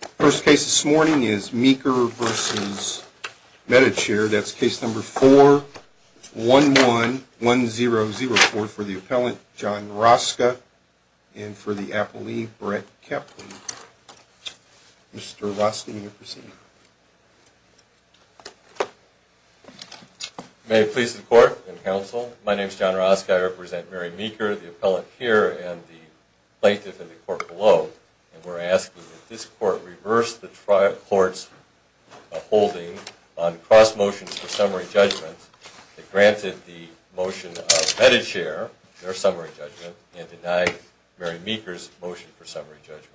The first case this morning is Meeker v. Medi-Chair. That's case number 4111004 for the appellant, John Roska, and for the appellee, Brett Kaplan. Mr. Roska, will you proceed? May it please the court and counsel, my name is John Roska. I represent Mary Meeker, the appellant here, and the plaintiff in the court below. We're asking that this court reverse the court's holding on cross motions for summary judgments that granted the motion of Medi-Chair, their summary judgment, and denied Mary Meeker's motion for summary judgment.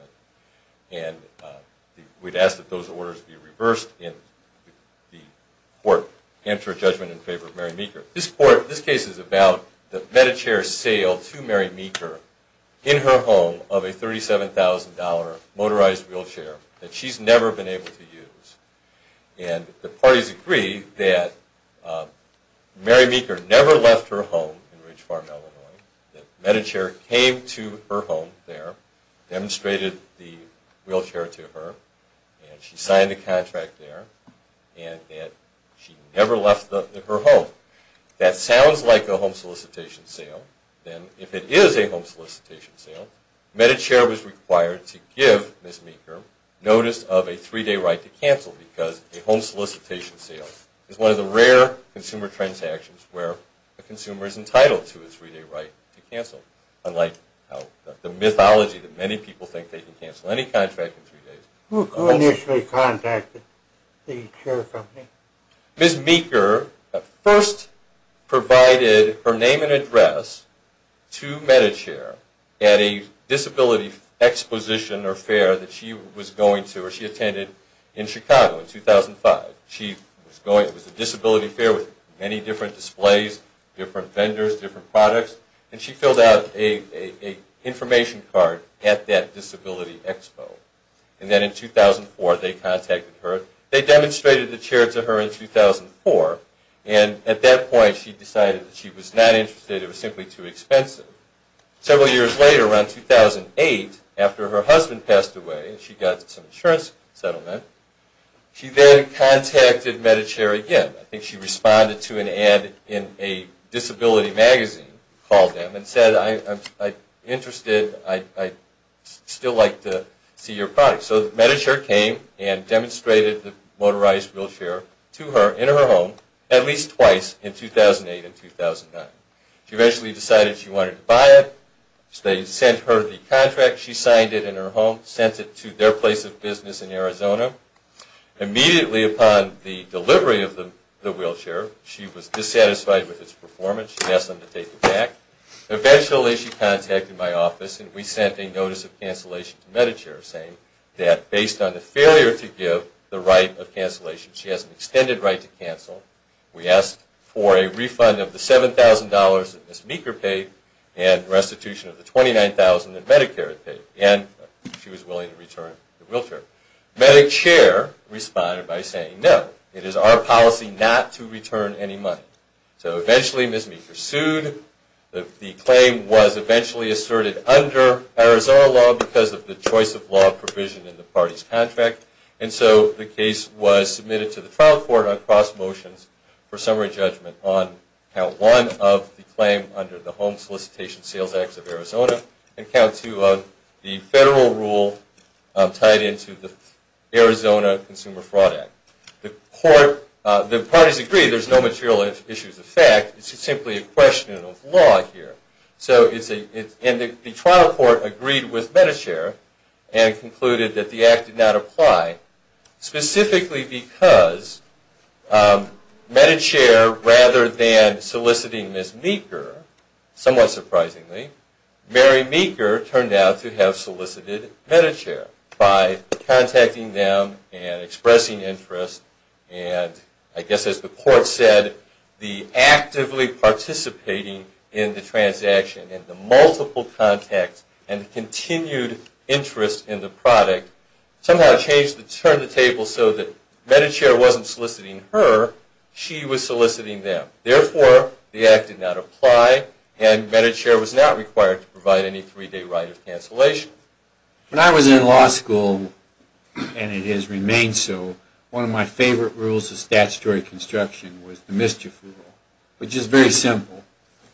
And we'd ask that those orders be reversed and the court answer a judgment in favor of Mary Meeker. This case is about the Medi-Chair sale to Mary Meeker in her home of a $37,000 motorized wheelchair that she's never been able to use. And the parties agree that Mary Meeker never left her home in Ridge Farm, Illinois, that Medi-Chair came to her home there, demonstrated the wheelchair to her, and she signed the contract there, and that she never left her home. That sounds like a home solicitation sale. If it is a home solicitation sale, Medi-Chair was required to give Ms. Meeker notice of a three-day right to cancel because a home solicitation sale is one of the rare consumer transactions where a consumer is entitled to a three-day right to cancel. Unlike the mythology that many people think they can cancel any contract in three days. Who initially contacted the chair company? Ms. Meeker first provided her name and address to Medi-Chair at a disability exposition or fair that she was going to, or she attended in Chicago in 2005. It was a disability fair with many different displays, different vendors, different products, and she filled out an information card at that disability expo. And then in 2004 they contacted her. They demonstrated the chair to her in 2004, and at that point she decided that she was not interested. It was simply too expensive. Several years later, around 2008, after her husband passed away and she got some insurance settlement, she then contacted Medi-Chair again. I think she responded to an ad in a disability magazine, called them, and said, I'm interested, I'd still like to see your product. So Medi-Chair came and demonstrated the motorized wheelchair to her in her home at least twice in 2008 and 2009. She eventually decided she wanted to buy it. They sent her the contract. She signed it in her home, sent it to their place of business in Arizona. Immediately upon the delivery of the wheelchair, she was dissatisfied with its performance. She asked them to take it back. Eventually she contacted my office, and we sent a notice of cancellation to Medi-Chair, saying that based on the failure to give the right of cancellation, she has an extended right to cancel. We asked for a refund of the $7,000 that Ms. Meeker paid and restitution of the $29,000 that Medicare had paid, and she was willing to return the wheelchair. Medi-Chair responded by saying, no, it is our policy not to return any money. So eventually Ms. Meeker sued. The claim was eventually asserted under Arizona law because of the choice of law provision in the party's contract, and so the case was submitted to the trial court on cross motions for summary judgment on Count 1 of the claim under the Arizona Consumer Fraud Act. The parties agreed there's no material issues of fact. It's simply a question of law here. And the trial court agreed with Medi-Chair and concluded that the act did not apply, specifically because Medi-Chair, rather than soliciting Ms. Meeker, somewhat surprisingly, Mary Meeker turned out to have solicited Medi-Chair by contacting them and expressing interest. And I guess as the court said, the actively participating in the transaction and the multiple contacts and the continued interest in the product somehow changed the turn of the table so that Medi-Chair wasn't soliciting her, she was soliciting them. Therefore, the act did not apply, and Medi-Chair was not required to provide any three-day right of cancellation. When I was in law school, and it has remained so, one of my favorite rules of statutory construction was the mischief rule, which is very simple.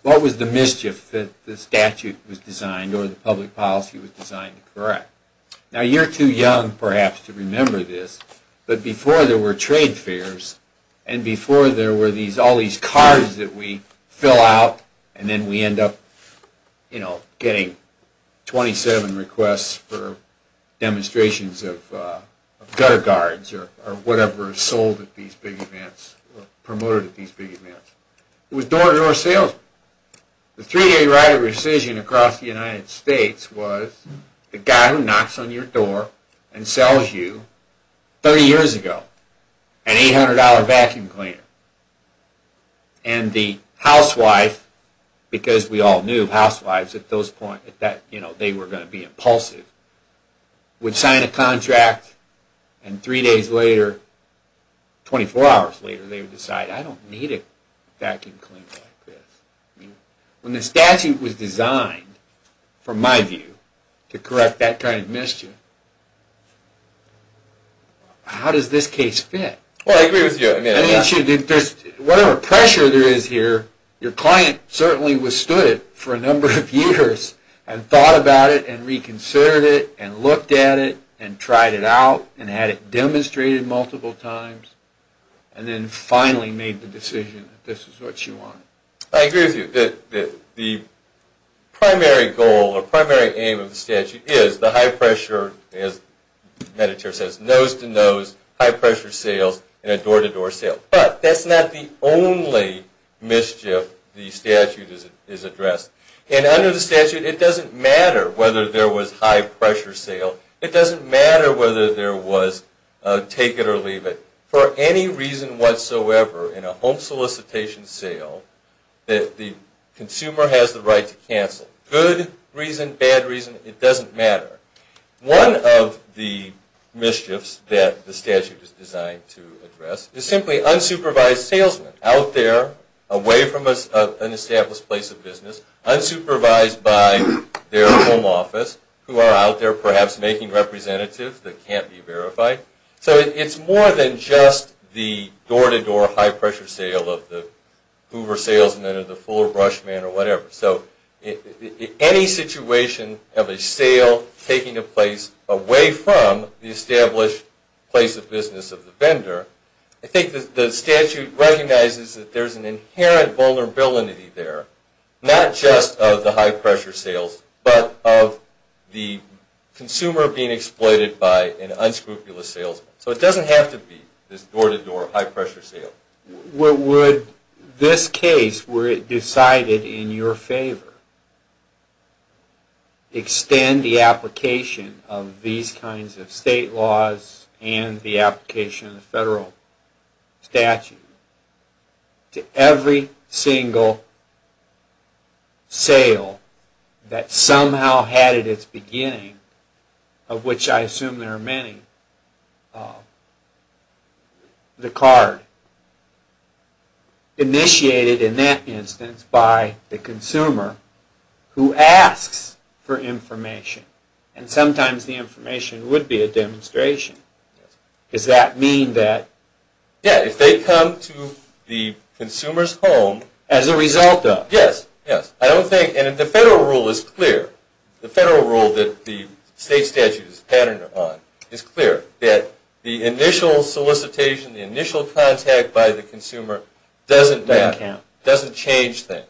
What was the mischief that the statute was designed or the public policy was designed to correct? Now you're too young, perhaps, to remember this, but before there were trade fairs and before there were all these cards that we fill out and then we end up, you know, getting 27 requests for demonstrations of gutter guards or whatever is sold at these big events, promoted at these big events. It was door-to-door sales. The three-day right of rescission across the United States was the guy who knocks on your door and sells you, 30 years ago, an $800 vacuum cleaner. And the housewife, because we all knew housewives at those points, you know, they were going to be impulsive, would sign a contract and three days later, 24 hours later, they would decide, I don't need a vacuum cleaner like this. When the statute was designed, from my view, to correct that kind of mischief, how does this case fit? Well, I agree with you. Whatever pressure there is here, your client certainly withstood it for a number of years and thought about it and reconsidered it and looked at it and tried it out and had it demonstrated multiple times and then finally made the decision that this is what you wanted. I agree with you. The primary goal or primary aim of the statute is the high-pressure, as the editor says, nose-to-nose, high-pressure sales and a door-to-door sale. But that's not the only mischief the statute has addressed. And under the statute, it doesn't matter whether there was high-pressure sale. It doesn't matter whether there was take-it-or-leave-it. For any reason whatsoever, in a home solicitation sale, the consumer has the right to cancel. Good reason, bad reason, it doesn't matter. One of the mischiefs that the statute is designed to address is simply unsupervised salesmen out there, away from an established place of business, unsupervised by their home office, who are out there perhaps making representatives that can't be verified. So it's more than just the door-to-door high-pressure sale of the Hoover Salesman or the Fuller Brushman or whatever. So any situation of a sale taking a place away from the established place of business of the vendor, I think the statute recognizes that there's an inherent vulnerability there, not just of the high-pressure sales, but of the consumer being exploited by an unscrupulous salesman. So it doesn't have to be this door-to-door high-pressure sale. Would this case, were it decided in your favor, extend the application of these kinds of state laws and the application of the federal statute to every single sale that somehow had at its beginning, of which I assume there are many, the card, initiated in that instance by the consumer who asks for information? And sometimes the information would be a demonstration. Does that mean that... Yeah, if they come to the consumer's home... As a result of... Yes, yes. I don't think, and the federal rule is clear. The federal rule that the state statute is patterned upon is clear, that the initial solicitation, the initial contact by the consumer doesn't matter. Doesn't change things.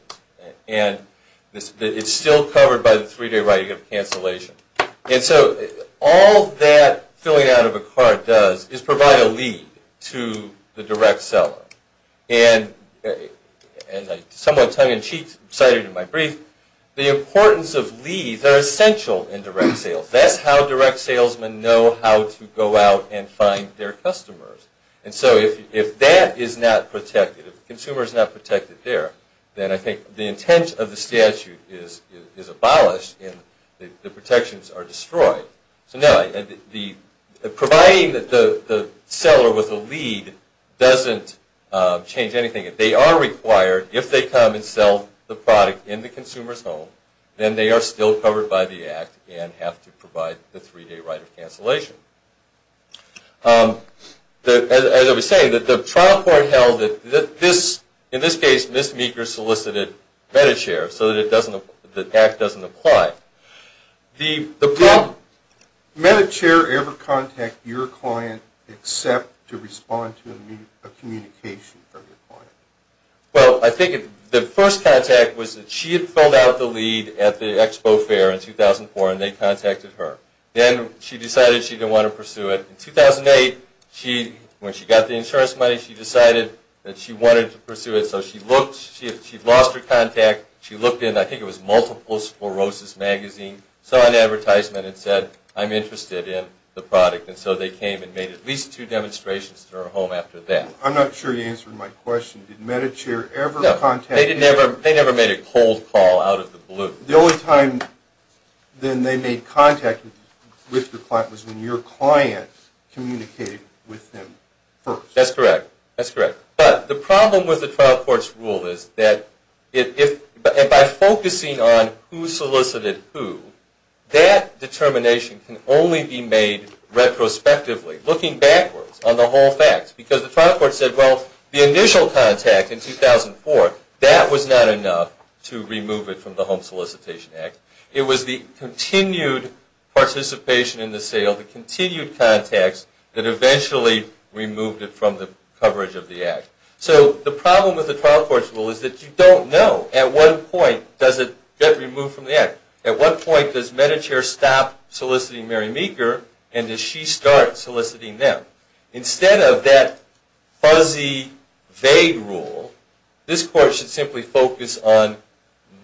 And it's still covered by the three-day writing of cancellation. And so all that filling out of a card does is provide a lead to the direct seller. And as I somewhat tongue-in-cheek cited in my brief, the importance of leads are essential in direct sales. That's how direct salesmen know how to go out and find their customers. And so if that is not protected, if the consumer is not protected there, then I think the intent of the statute is abolished and the protections are destroyed. So no, providing the seller with a lead doesn't change anything. If they are required, if they come and sell the product in the consumer's home, then they are still covered by the Act and have to provide the three-day right of cancellation. As I was saying, the trial court held that this, in this case, Ms. Meeker solicited MediChair so that the Act doesn't apply. Did MediChair ever contact your client except to respond to a communication from your client? Well, I think the first contact was that she had filled out the lead at the Expo Fair in 2004 and they contacted her. Then she decided she didn't want to pursue it. In 2008, when she got the insurance money, she decided that she wanted to pursue it. So she looked, she lost her contact, she looked in, I think it was Multiple Sclerosis Magazine, saw an advertisement and said, I'm interested in the product. And so they came and made at least two demonstrations to her home after that. I'm not sure you answered my question. Did MediChair ever contact you? No, they never made a cold call out of the blue. The only time then they made contact with your client was when your client communicated with them first. That's correct. That's correct. But the problem with the trial court's rule is that if, and by focusing on who solicited who, that determination can only be made retrospectively, looking backwards on the whole fact. Because the trial court said, well, the initial contact in 2004, that was not enough to remove it from the Home Solicitation Act. It was the continued participation in the sale, the continued contacts, that eventually removed it from the coverage of the Act. So the problem with the trial court's rule is that you don't know at what point does it get removed from the Act. At what point does MediChair stop soliciting Mary Meeker and does she start soliciting them? Instead of that fuzzy, vague rule, this court should simply focus on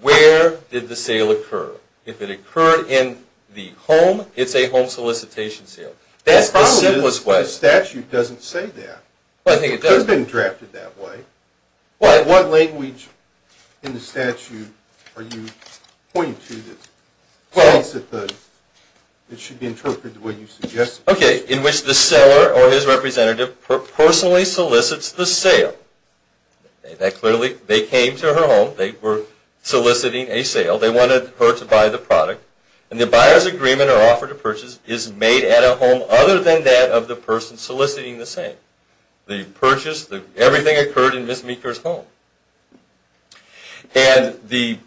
where did the sale occur. If it occurred in the home, it's a home solicitation sale. That's the simplest way. The statute doesn't say that. I think it does. It's been drafted that way. What language in the statute are you pointing to that states that it should be interpreted the way you suggested? Okay, in which the seller or his representative personally solicits the sale. They came to her home. They were soliciting a sale. They wanted her to buy the product. And the buyer's agreement or offer to purchase is made at a home other than that of the person soliciting the sale. The purchase, everything occurred in Ms. Meeker's home. And the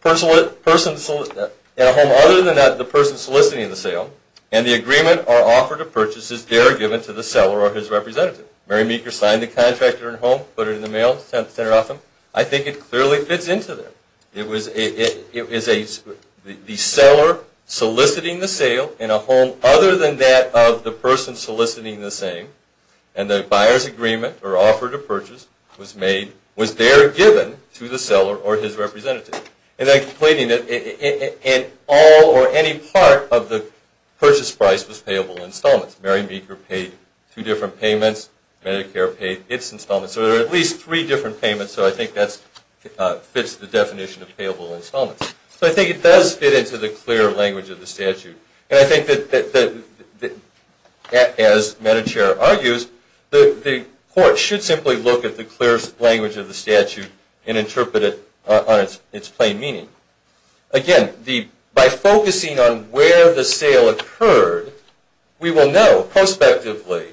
person in a home other than that of the person soliciting the sale and the agreement or offer to purchase is there given to the seller or his representative. Mary Meeker signed the contract at her home, put it in the mail, sent it off to him. I think it clearly fits into there. It was the seller soliciting the sale in a home other than that of the person soliciting the same and the buyer's agreement or offer to purchase was made, was there given to the seller or his representative. And then completing it in all or any part of the purchase price was payable installments. Mary Meeker paid two different payments. Medicare paid its installments. So there are at least three different payments. So I think that fits the definition of payable installments. So I think it does fit into the clear language of the statute. And I think that as Medicare argues, the court should simply look at the clear language of the statute and interpret it on its plain meaning. Again, by focusing on where the sale occurred, we will know prospectively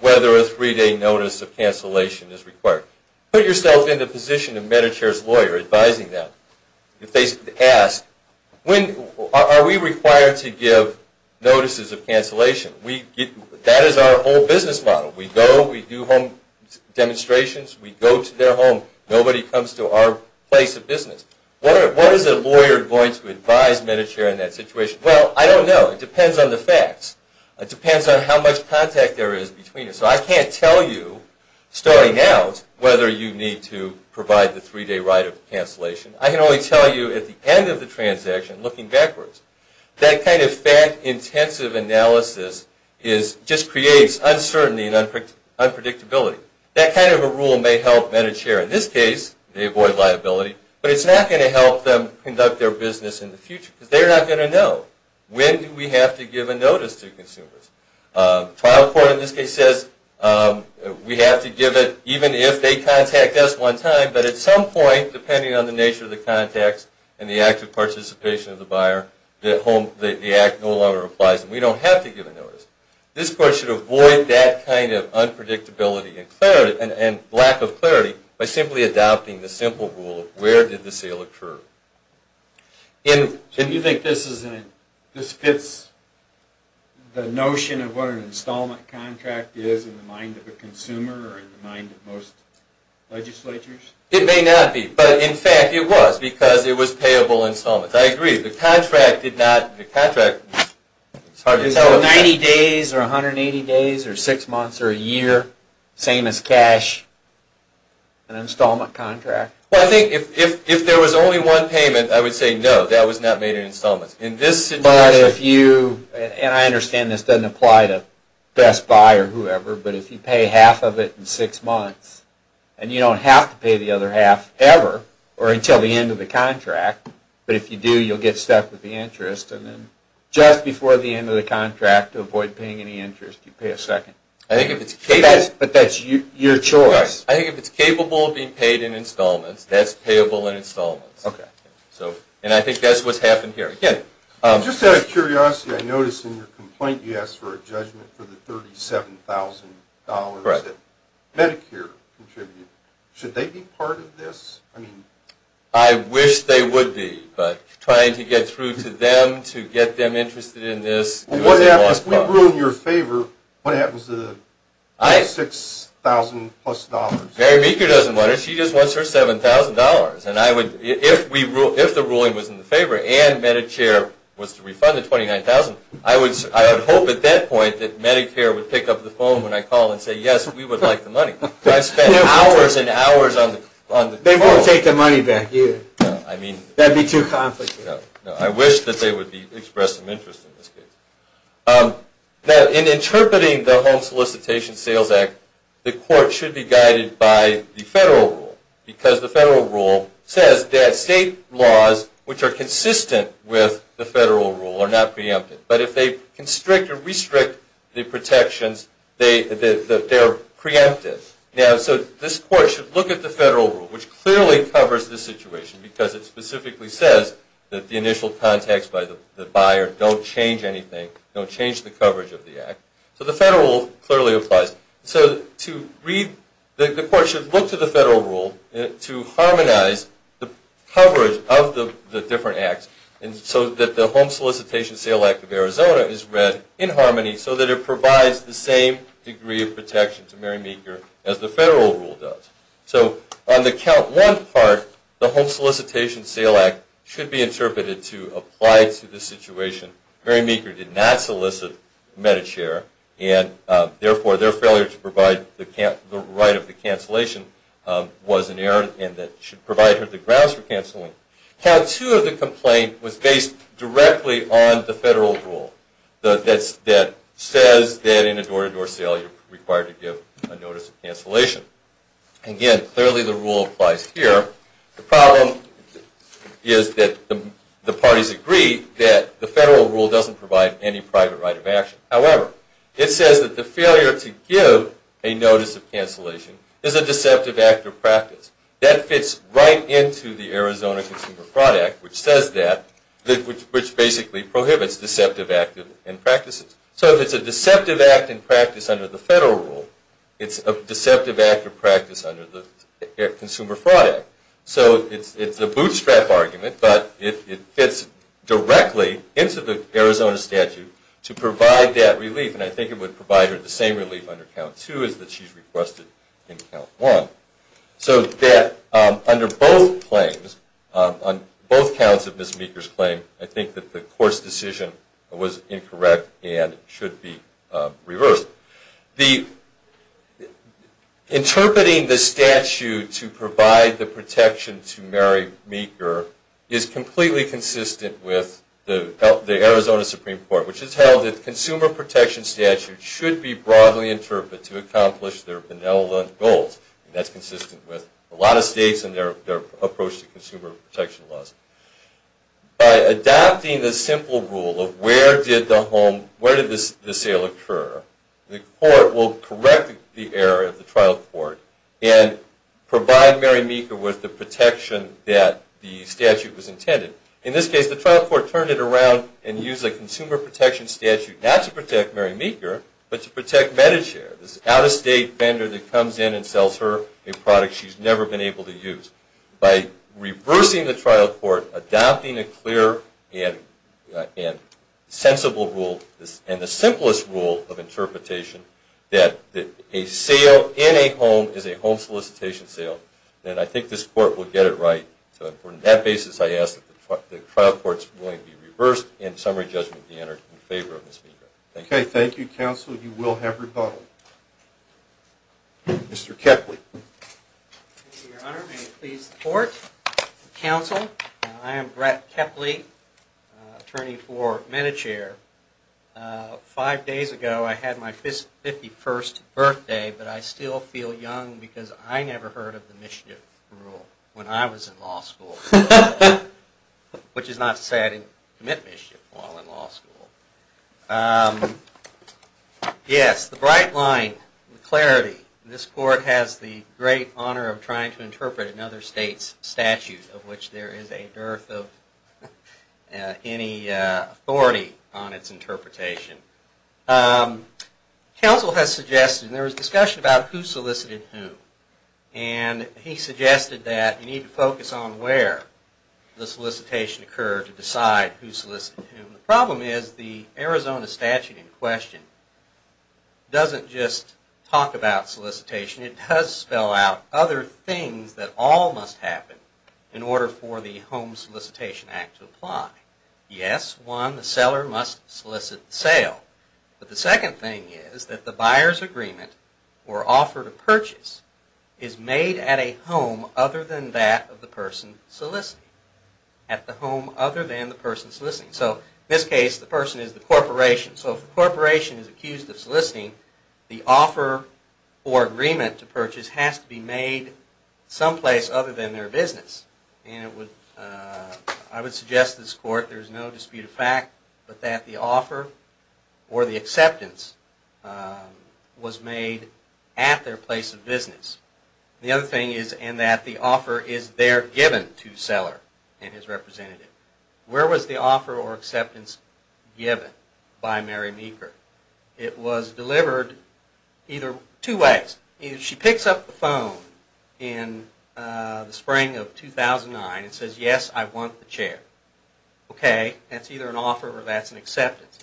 whether a three-day notice of cancellation is required. Put yourself in the position of Medicare's lawyer advising them. If they ask, are we required to give notices of cancellation? That is our whole business model. We go, we do home demonstrations. We go to their home. Nobody comes to our place of business. What is a lawyer going to advise Medicare in that situation? Well, I don't know. It depends on the facts. It depends on how much contact there is between us. So I can't tell you starting out whether you need to provide the three-day right of cancellation. I can only tell you at the end of the transaction, looking backwards. That kind of fact-intensive analysis just creates uncertainty and unpredictability. That kind of a rule may help Medicare. In this case, they avoid liability. But it's not going to help them conduct their business in the future. Because they're not going to know when do we have to give a notice to consumers. Trial court in this case says we have to give it even if they contact us one time. But at some point, depending on the nature of the contacts and the active participation of the buyer, the act no longer applies and we don't have to give a notice. This court should avoid that kind of unpredictability and lack of clarity by simply adopting the simple rule of where did the sale occur. Do you think this fits the notion of what an installment contract is in the mind of a consumer or in the mind of most legislatures? It may not be. But, in fact, it was because it was payable installments. I agree. The contract did not... So 90 days or 180 days or six months or a year, same as cash, an installment contract. Well, I think if there was only one payment, I would say no, that was not made in installments. But if you... And I understand this doesn't apply to Best Buy or whoever, but if you pay half of it in six months and you don't have to pay the other half ever or until the end of the contract, but if you do, you'll get stuck with the interest. And then just before the end of the contract, to avoid paying any interest, you pay a second. I think if it's capable... But that's your choice. I think if it's capable of being paid in installments, that's payable in installments. Okay. And I think that's what's happened here. Just out of curiosity, I noticed in your complaint you asked for a judgment for the $37,000 that Medicare contributed. Should they be part of this? I wish they would be, but trying to get through to them to get them interested in this... If we ruin your favor, what happens to the $6,000 plus? Mary Meeker doesn't want it. She just wants her $7,000. And if the ruling was in the favor and Medicare was to refund the $29,000, I would hope at that point that Medicare would pick up the phone when I call and say, yes, we would like the money. I've spent hours and hours on the phone. They won't take the money back either. I mean... That would be too complicated. I wish that they would express some interest in this case. Now, in interpreting the Home Solicitation Sales Act, the court should be guided by the federal rule because the federal rule says that state laws which are consistent with the federal rule are not preempted. But if they constrict or restrict the protections, they're preempted. Now, so this court should look at the federal rule, which clearly covers this situation because it specifically says that the initial contacts by the buyer don't change anything, don't change the coverage of the act. So the federal rule clearly applies. So the court should look to the federal rule to harmonize the coverage of the different acts so that the Home Solicitation Sales Act of Arizona is read in harmony so that it provides the same degree of protection to Mary Meeker as the federal rule does. So on the count one part, the Home Solicitation Sales Act should be interpreted to apply to the situation Mary Meeker did not solicit MediChair and therefore their failure to provide the right of the cancellation was an error and that should provide her the grounds for canceling. Count two of the complaint was based directly on the federal rule that says that in a door-to-door sale you're required to give a notice of cancellation. Again, clearly the rule applies here. The problem is that the parties agree that the federal rule doesn't provide any private right of action. However, it says that the failure to give a notice of cancellation is a deceptive act of practice. That fits right into the Arizona Consumer Fraud Act, which says that, which basically prohibits deceptive acts and practices. So if it's a deceptive act in practice under the federal rule, it's a deceptive act of practice under the Consumer Fraud Act. So it's a bootstrap argument, but it fits directly into the Arizona statute to provide that relief. And I think it would provide her the same relief under count two as that she's requested in count one. So that under both claims, on both counts of Miss Meeker's claim, I think that the court's decision was incorrect and should be reversed. Interpreting the statute to provide the protection to Mary Meeker is completely consistent with the Arizona Supreme Court, which has held that the Consumer Protection Statute should be broadly interpreted to accomplish their benevolent goals. That's consistent with a lot of states and their approach to consumer protection laws. By adopting the simple rule of where did the sale occur, the court will correct the error of the trial court and provide Mary Meeker with the protection that the statute was intended. In this case, the trial court turned it around and used the Consumer Protection Statute not to protect Mary Meeker, but to protect Medichare, this out-of-state vendor that comes in and sells her a product she's never been able to use. By reversing the trial court, adopting a clear and sensible rule, and the simplest rule of interpretation, that a sale in a home is a home solicitation sale, then I think this court will get it right. So on that basis, I ask that the trial court's ruling be reversed and summary judgment be entered in favor of Miss Meeker. Thank you. Okay, thank you, counsel. You will have rebuttal. Mr. Keckley. Thank you, your honor. May it please the court and counsel. I am Brett Keckley, attorney for Medichare. Five days ago I had my 51st birthday, but I still feel young because I never heard of the mischief rule when I was in law school. Which is not to say I didn't commit mischief while in law school. Yes, the bright line, the clarity. This court has the great honor of trying to interpret another state's statute, of which there is a dearth of any authority on its interpretation. Counsel has suggested, and there was discussion about who solicited whom, and he suggested that you need to focus on where the solicitation occurred to decide who solicited whom. The problem is the Arizona statute in question doesn't just talk about solicitation. It does spell out other things that all must happen in order for the Home Solicitation Act to apply. Yes, one, the seller must solicit the sale. But the second thing is that the buyer's agreement or offer to purchase is made at a home other than that of the person soliciting. At the home other than the person soliciting. So in this case, the person is the corporation. So if the corporation is accused of soliciting, the offer or agreement to purchase has to be made someplace other than their business. And I would suggest to this court, there is no dispute of fact, that the offer or the acceptance was made at their place of business. The other thing is that the offer is there given to the seller and his representative. Where was the offer or acceptance given by Mary Meeker? It was delivered either two ways. She picks up the phone in the spring of 2009 and says, Yes, I want the chair. Okay, that's either an offer or that's an acceptance.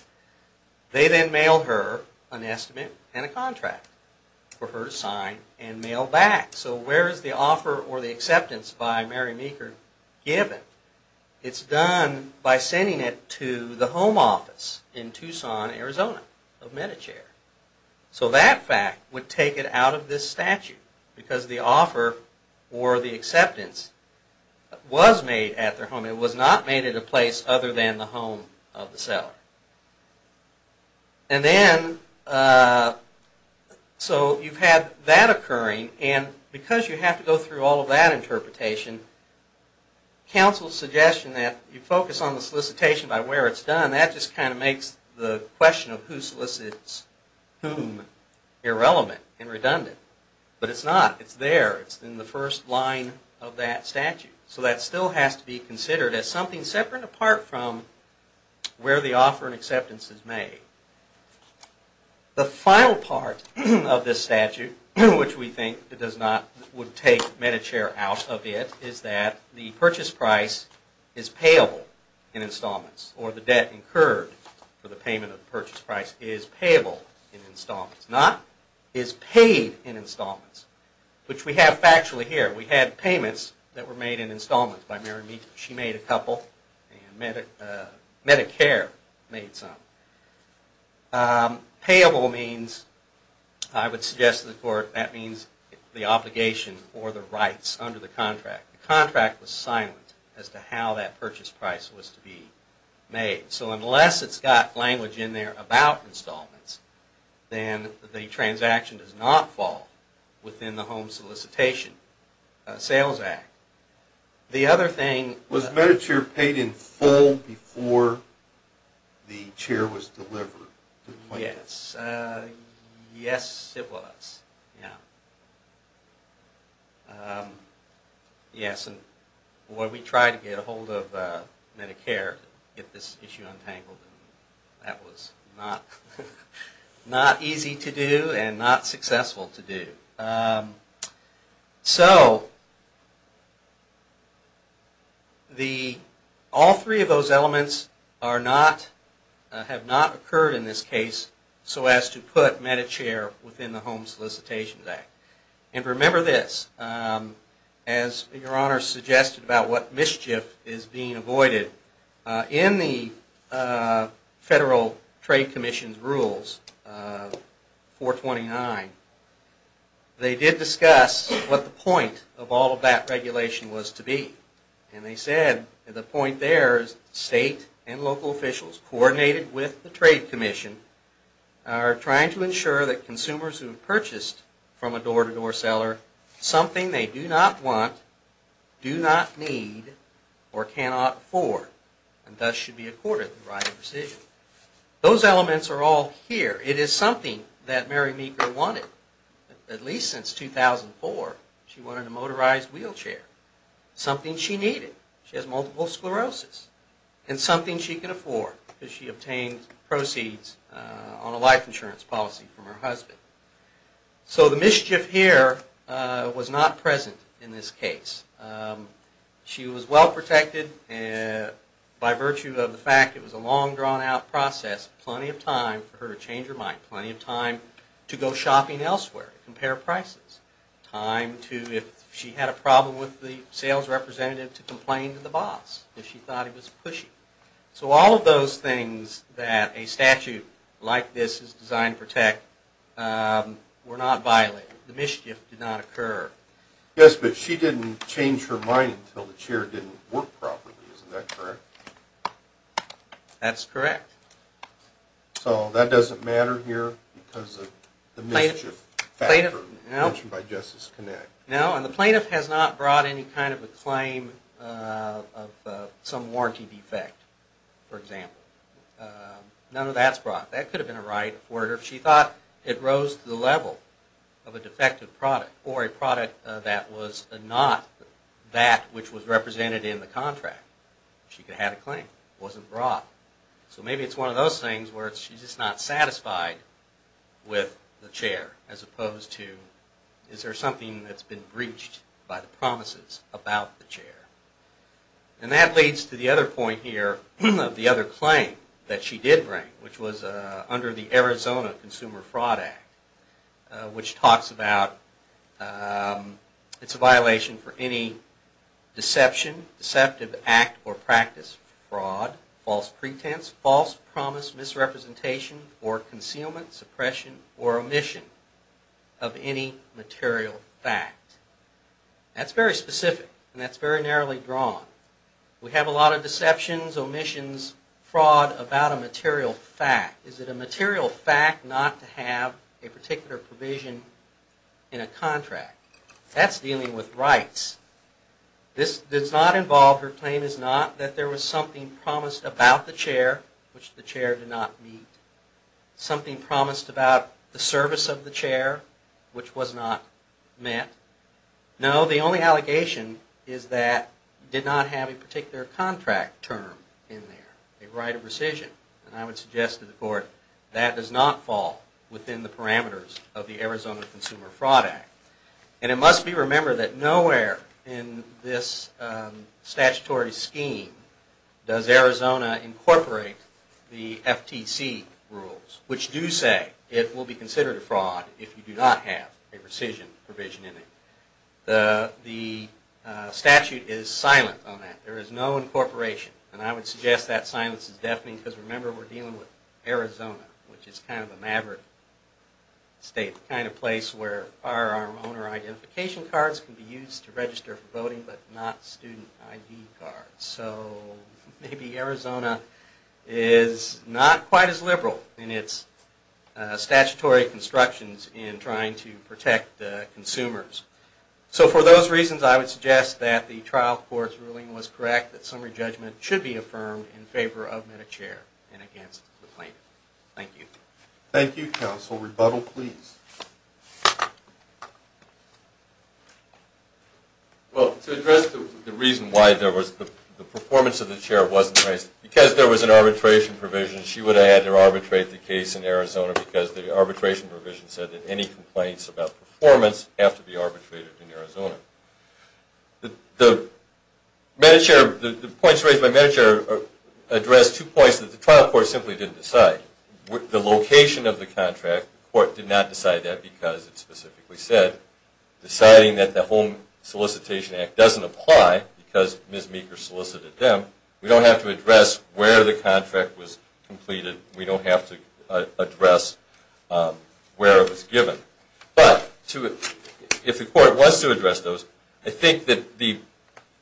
So where is the offer or the acceptance by Mary Meeker given? It's done by sending it to the home office in Tucson, Arizona of Medicare. So that fact would take it out of this statute. Because the offer or the acceptance was made at their home. It was not made at a place other than the home of the seller. And then, so you've had that occurring. And because you have to go through all of that interpretation, counsel's suggestion that you focus on the solicitation by where it's done, that just kind of makes the question of who solicits whom irrelevant and redundant. But it's not. It's there. It's in the first line of that statute. So that still has to be considered as something separate apart from where the offer and acceptance is made. The final part of this statute, which we think would take Medicare out of it, is that the purchase price is payable in installments. Or the debt incurred for the payment of the purchase price is payable in installments. Not is paid in installments, which we have factually here. We had payments that were made in installments. She made a couple, and Medicare made some. Payable means, I would suggest to the court, that means the obligation or the rights under the contract. The contract was silent as to how that purchase price was to be made. So unless it's got language in there about installments, then the transaction does not fall within the Home Solicitation Sales Act. The other thing... Was Medicare paid in full before the chair was delivered? Yes. Yes, it was. Yes, and when we tried to get a hold of Medicare to get this issue untangled, that was not easy to do and not successful to do. So all three of those elements have not occurred in this case so as to put Medicare within the Home Solicitation Act. And remember this. As Your Honor suggested about what mischief is being avoided, in the Federal Trade Commission's Rules 429, they did discuss what the point of all of that regulation was to be. And they said the point there is state and local officials coordinated with the Trade Commission are trying to ensure that consumers who have purchased from a door-to-door seller something they do not want, do not need, or cannot afford and thus should be accorded the right of decision. Those elements are all here. It is something that Mary Meeker wanted at least since 2004. She wanted a motorized wheelchair, something she needed. She has multiple sclerosis and something she can afford because she obtained proceeds on a life insurance policy from her husband. So the mischief here was not present in this case. She was well protected by virtue of the fact it was a long, drawn-out process, plenty of time for her to change her mind, plenty of time to go shopping elsewhere, compare prices, time if she had a problem with the sales representative to complain to the boss if she thought he was pushy. So all of those things that a statute like this is designed to protect were not violated. The mischief did not occur. Yes, but she didn't change her mind until the chair didn't work properly. Isn't that correct? That's correct. So that doesn't matter here because of the mischief factor mentioned by Justice Connect. No, and the plaintiff has not brought any kind of a claim of some warranty defect, for example. None of that's brought. That could have been a right for her if she thought it rose to the level of a defective product or a product that was not that which was represented in the contract. She could have had a claim. It wasn't brought. So maybe it's one of those things where she's just not satisfied with the chair as opposed to is there something that's been breached by the promises about the chair. And that leads to the other point here of the other claim that she did bring, which was under the Arizona Consumer Fraud Act, which talks about it's a violation for any deception, deceptive act or practice, fraud, false pretense, false promise, misrepresentation, or concealment, suppression, or omission of any material fact. That's very specific and that's very narrowly drawn. We have a lot of deceptions, omissions, fraud about a material fact. Is it a material fact not to have a particular provision in a contract? That's dealing with rights. This does not involve or claim is not that there was something promised about the chair which the chair did not meet, something promised about the service of the chair which was not met. No, the only allegation is that it did not have a particular contract term in there, a right of rescission. And I would suggest to the court that does not fall within the parameters of the Arizona Consumer Fraud Act. And it must be remembered that nowhere in this statutory scheme does Arizona incorporate the FTC rules, which do say it will be considered a fraud if you do not have a rescission provision in it. The statute is silent on that. There is no incorporation. And I would suggest that silence is deafening because remember we're dealing with Arizona, which is kind of a maverick state, kind of place where firearm owner identification cards can be used to register for voting but not student ID cards. So maybe Arizona is not quite as liberal in its statutory constructions in trying to protect the consumers. So for those reasons I would suggest that the trial court's ruling was correct, that summary judgment should be affirmed in favor of MediChair and against the plaintiff. Thank you. Thank you, counsel. Rebuttal, please. Well, to address the reason why the performance of the chair wasn't raised, because there was an arbitration provision she would have had to arbitrate the case in Arizona because the arbitration provision said that any complaints about performance have to be arbitrated in Arizona. The points raised by MediChair address two points that the trial court simply didn't decide. The location of the contract the court did not decide that because it specifically said deciding that the Home Solicitation Act doesn't apply because Ms. Meeker solicited them. We don't have to address where the contract was completed. We don't have to address where it was given. But if the court wants to address those, I think that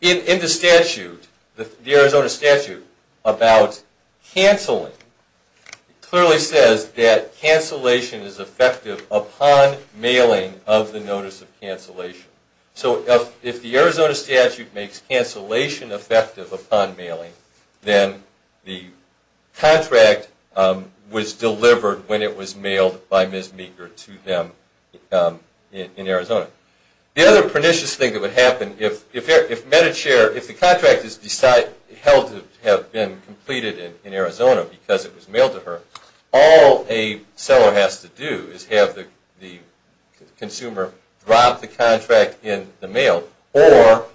in the statute, the Arizona statute about canceling clearly says that cancellation is effective upon mailing of the notice of cancellation. So if the Arizona statute makes cancellation effective upon mailing, then the contract was delivered when it was mailed by Ms. Meeker to them in Arizona. The other pernicious thing that would happen, if MediChair, if the contract is held to have been completed in Arizona because it was mailed to her, all a seller has to do is have the consumer drop the contract in the mail or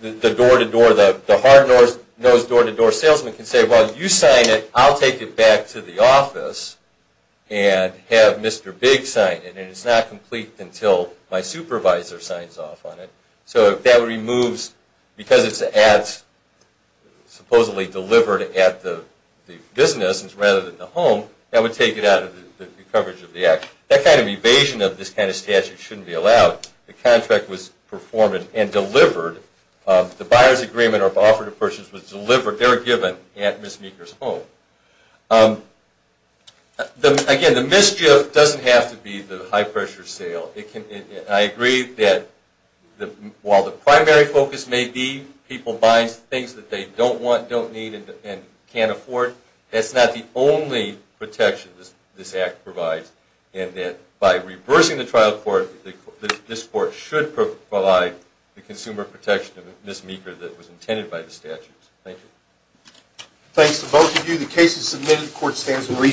the door-to-door, the hard-nosed door-to-door salesman can say, well, you sign it, I'll take it back to the office and have Mr. Big sign it. And it's not complete until my supervisor signs off on it. So that removes, because it's ads supposedly delivered at the business rather than the home, that would take it out of the coverage of the act. That kind of evasion of this kind of statute shouldn't be allowed. The contract was performed and delivered. The buyer's agreement or offer to purchase was delivered, their given, at Ms. Meeker's home. Again, the mischief doesn't have to be the high-pressure sale. I agree that while the primary focus may be people buying things that they don't want, don't need, and can't afford, that's not the only protection this act provides. And that by reversing the trial court, this court should provide the consumer protection of Ms. Meeker that was intended by the statute. Thank you. Thanks to both of you. The case is submitted. The court stands in recess.